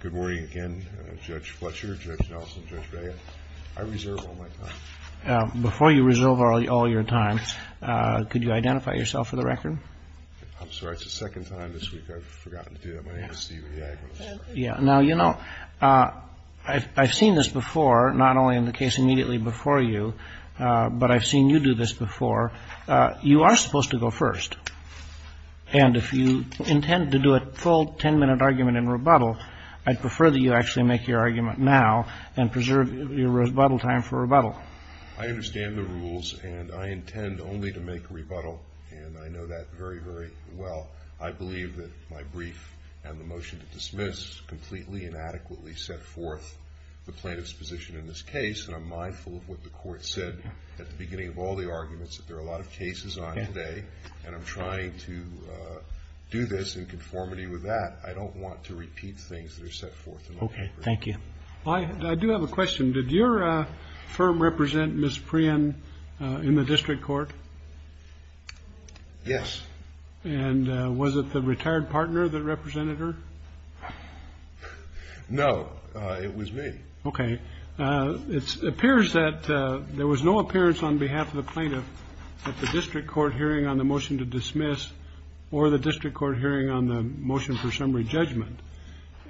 Good morning again, Judge Fletcher, Judge Nelson, Judge Behan. I reserve all my time. Before you reserve all your time, could you identify yourself for the record? I'm sorry, it's the second time this week I've forgotten to do that. My name is Steve Iagones. Now, you know, I've seen this before, not only in the case immediately before you, but I've seen you do this before. You are supposed to go first, and if you intend to do a full 10-minute argument in rebuttal, I'd prefer that you actually make your argument now and preserve your rebuttal time for rebuttal. I understand the rules, and I intend only to make a rebuttal, and I know that very, very well. I believe that my brief and the motion to dismiss completely inadequately set forth the plaintiff's position in this case, and I'm mindful of what the court said at the beginning of all the arguments that there are a lot of cases on today, and I'm trying to do this in conformity with that. I don't want to repeat things that are set forth in my brief. Okay, thank you. I do have a question. Did your firm represent Ms. Prien in the district court? Yes. And was it the retired partner that represented her? No, it was me. Okay. It appears that there was no appearance on behalf of the plaintiff at the district court hearing on the motion to dismiss or the district court hearing on the motion for summary judgment,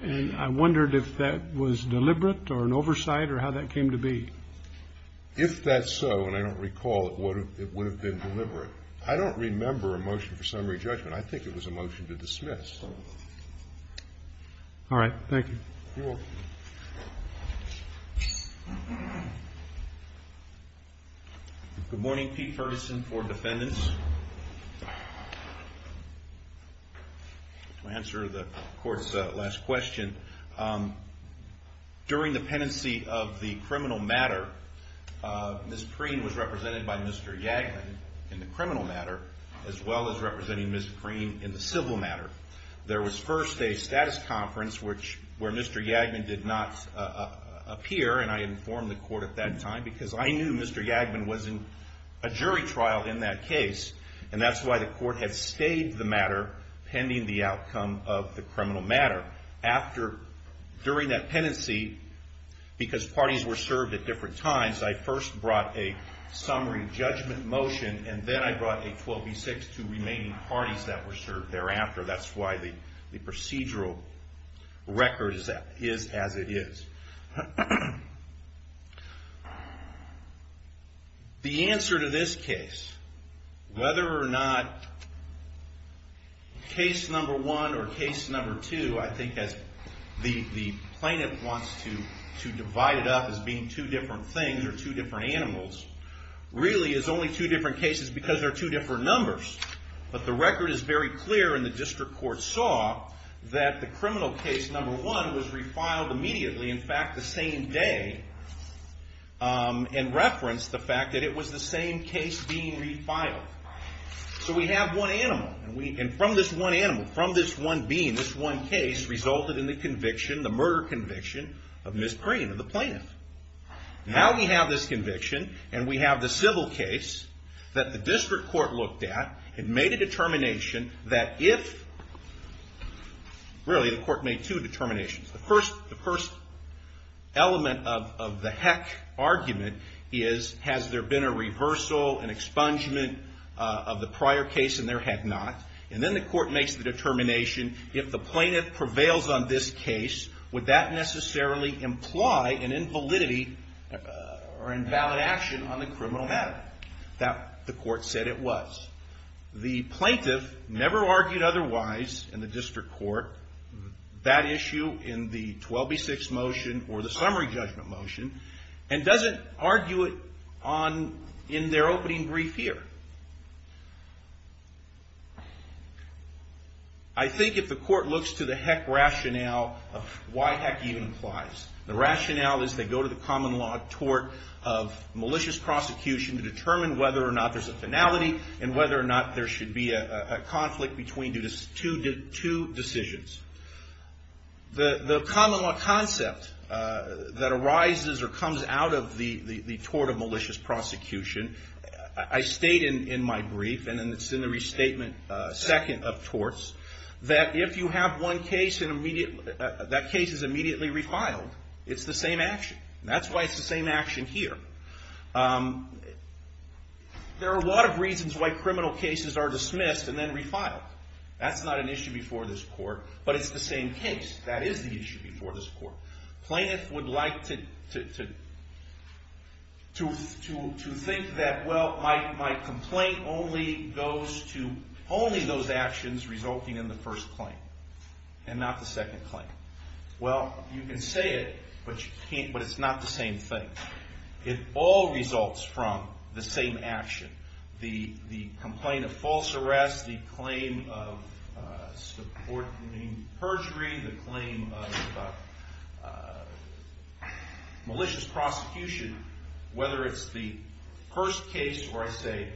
and I wondered if that was deliberate or an oversight or how that came to be. If that's so, and I don't recall it would have been deliberate, I don't remember a motion for summary judgment. I think it was a motion to dismiss. All right, thank you. You're welcome. Good morning, Pete Ferguson for defendants. To answer the court's last question, during the penancy of the criminal matter, Ms. Prien was represented by Mr. Yaglin in the criminal matter as well as representing Ms. Prien in the civil matter. There was first a status conference where Mr. Yaglin did not appear, and I informed the court at that time because I knew Mr. Yaglin was in a jury trial in that case, and that's why the court had stayed the matter pending the outcome of the criminal matter. During that penancy, because parties were served at different times, I first brought a summary judgment motion, and then I brought a 12 v. 6 to remaining parties that were served thereafter. That's why the procedural record is as it is. The answer to this case, whether or not case number one or case number two, I think as the plaintiff wants to divide it up as being two different things or two different animals, really is only two different cases because they're two different numbers. But the record is very clear, and the district court saw that the criminal case number one was refiled immediately, in fact the same day, and referenced the fact that it was the same case being refiled. So we have one animal, and from this one animal, from this one being, this one case resulted in the murder conviction of Ms. Prien, the plaintiff. Now we have this conviction, and we have the civil case that the district court looked at and made a determination that if, really the court made two determinations. The first element of the heck argument is has there been a reversal, an expungement of the prior case, and there had not. And then the court makes the determination, if the plaintiff prevails on this case, would that necessarily imply an invalidity or invalid action on the criminal matter? The court said it was. The plaintiff never argued otherwise in the district court, that issue in the 12B6 motion or the summary judgment motion, and doesn't argue it in their opening brief here. I think if the court looks to the heck rationale of why heck even implies. The rationale is they go to the common law tort of malicious prosecution to determine whether or not there's a finality, and whether or not there should be a conflict between two decisions. The common law concept that arises or comes out of the tort of malicious prosecution. I state in my brief, and it's in the restatement second of torts, that if you have one case, that case is immediately refiled. It's the same action. That's why it's the same action here. There are a lot of reasons why criminal cases are dismissed and then refiled. That's not an issue before this court, but it's the same case. That is the issue before this court. Plaintiff would like to think that, well, my complaint only goes to only those actions resulting in the first claim, and not the second claim. Well, you can say it, but it's not the same thing. It all results from the same action. The complaint of false arrest, the claim of supporting perjury, the claim of malicious prosecution. Whether it's the first case, or I say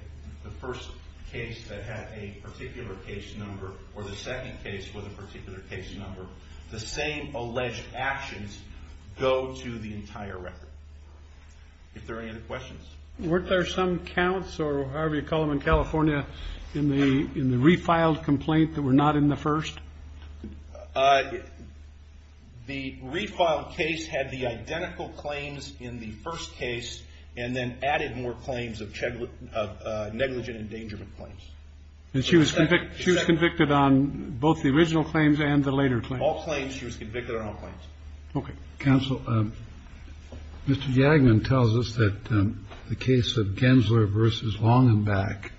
the first case that had a particular case number, or the second case with a particular case number, the same alleged actions go to the entire record. If there are any other questions. Weren't there some counts, or however you call them in California, in the refiled complaint that were not in the first? The refiled case had the identical claims in the first case, and then added more claims of negligent endangerment claims. And she was convicted on both the original claims and the later claims. She had all claims. She was convicted on all claims. Okay. Counsel, Mr. Jagman tells us that the case of Gensler versus Longenbach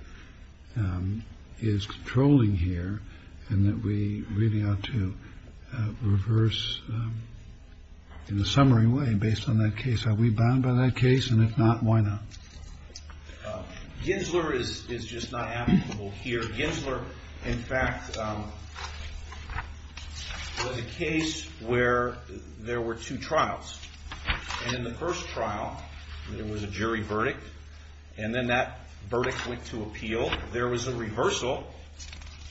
is controlling here, and that we really ought to reverse in a summary way based on that case. Are we bound by that case? And if not, why not? Gensler is just not applicable here. The case of Gensler, in fact, was a case where there were two trials. And in the first trial, there was a jury verdict. And then that verdict went to appeal. There was a reversal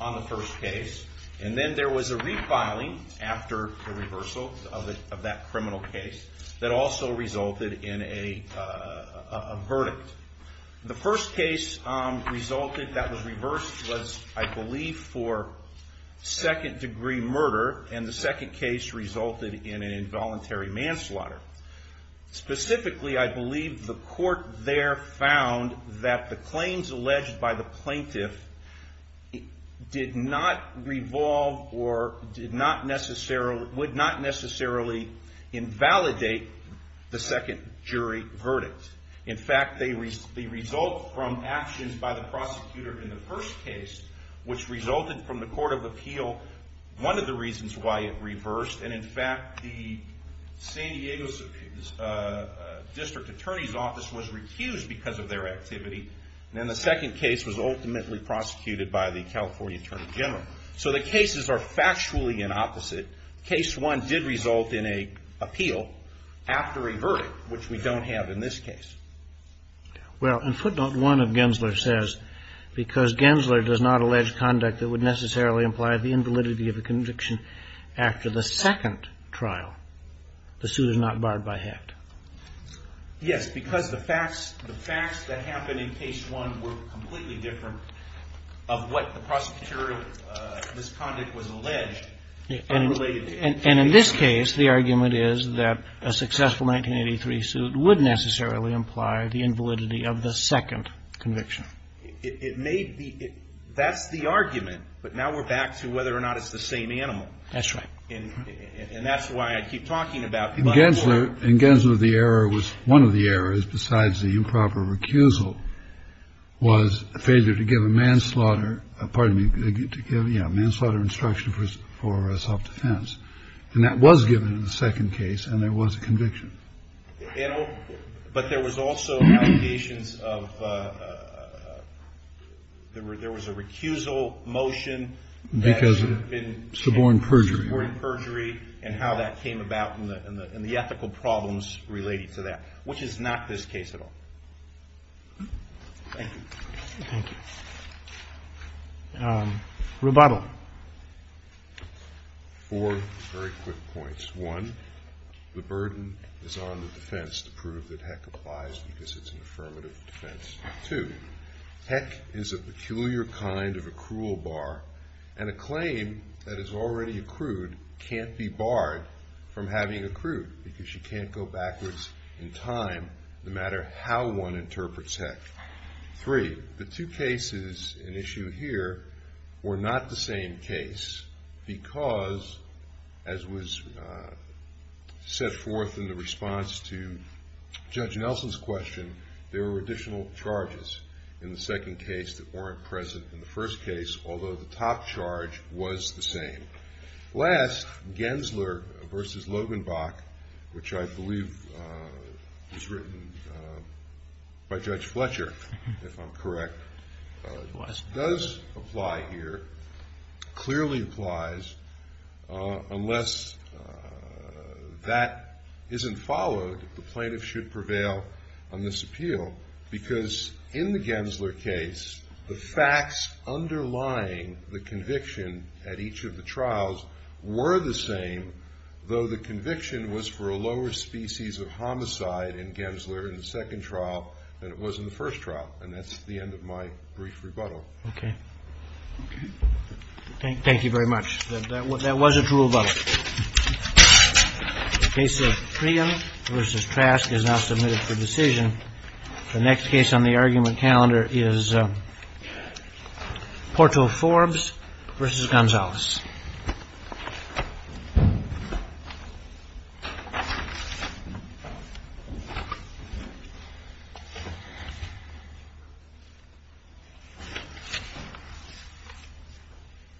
on the first case. And then there was a refiling after the reversal of that criminal case that also resulted in a verdict. The first case resulted, that was reversed, was, I believe, for second-degree murder. And the second case resulted in an involuntary manslaughter. Specifically, I believe the court there found that the claims alleged by the plaintiff did not revolve or would not necessarily invalidate the second jury verdict. In fact, the result from actions by the prosecutor in the first case, which resulted from the court of appeal, one of the reasons why it reversed. And in fact, the San Diego District Attorney's Office was recused because of their activity. And then the second case was ultimately prosecuted by the California Attorney General. So the cases are factually in opposite. Case one did result in an appeal after a verdict, which we don't have in this case. Well, in footnote one of Gensler says, because Gensler does not allege conduct that would necessarily imply the invalidity of a conviction after the second trial, the suit is not barred by heft. Yes, because the facts that happened in case one were completely different of what the prosecutor, this conduct was alleged. And in this case, the argument is that a successful 1983 suit would necessarily imply the invalidity of the second conviction. It may be. That's the argument. But now we're back to whether or not it's the same animal. That's right. And that's why I keep talking about. In Gensler, in Gensler, the error was one of the errors besides the improper recusal was a failure to give a manslaughter. Pardon me. To give a manslaughter instruction for self-defense. And that was given in the second case. And there was a conviction. But there was also allegations of there was a recusal motion. Because it had been suborn perjury. Suborn perjury and how that came about and the ethical problems related to that, which is not this case at all. Thank you. Thank you. Rebuttal. Four very quick points. One, the burden is on the defense to prove that heck applies because it's an affirmative defense. Two, heck is a peculiar kind of accrual bar. And a claim that is already accrued can't be barred from having accrued because you can't go backwards in time no matter how one interprets heck. Three, the two cases in issue here were not the same case because, as was set forth in the response to Judge Nelson's question, there were additional charges in the second case that weren't present in the first case although the top charge was the same. Last, Gensler versus Logenbach, which I believe was written by Judge Fletcher, if I'm correct, does apply here, clearly applies, unless that isn't followed the plaintiff should prevail on this appeal because in the Gensler case the facts underlying the conviction at each of the trials were the same though the conviction was for a lower species of homicide in Gensler in the second trial than it was in the first trial. And that's the end of my brief rebuttal. Okay. Thank you very much. That was a true rebuttal. The case of Cregan versus Trask is now submitted for decision. The next case on the argument calendar is Porto-Forbes versus Gonzalez.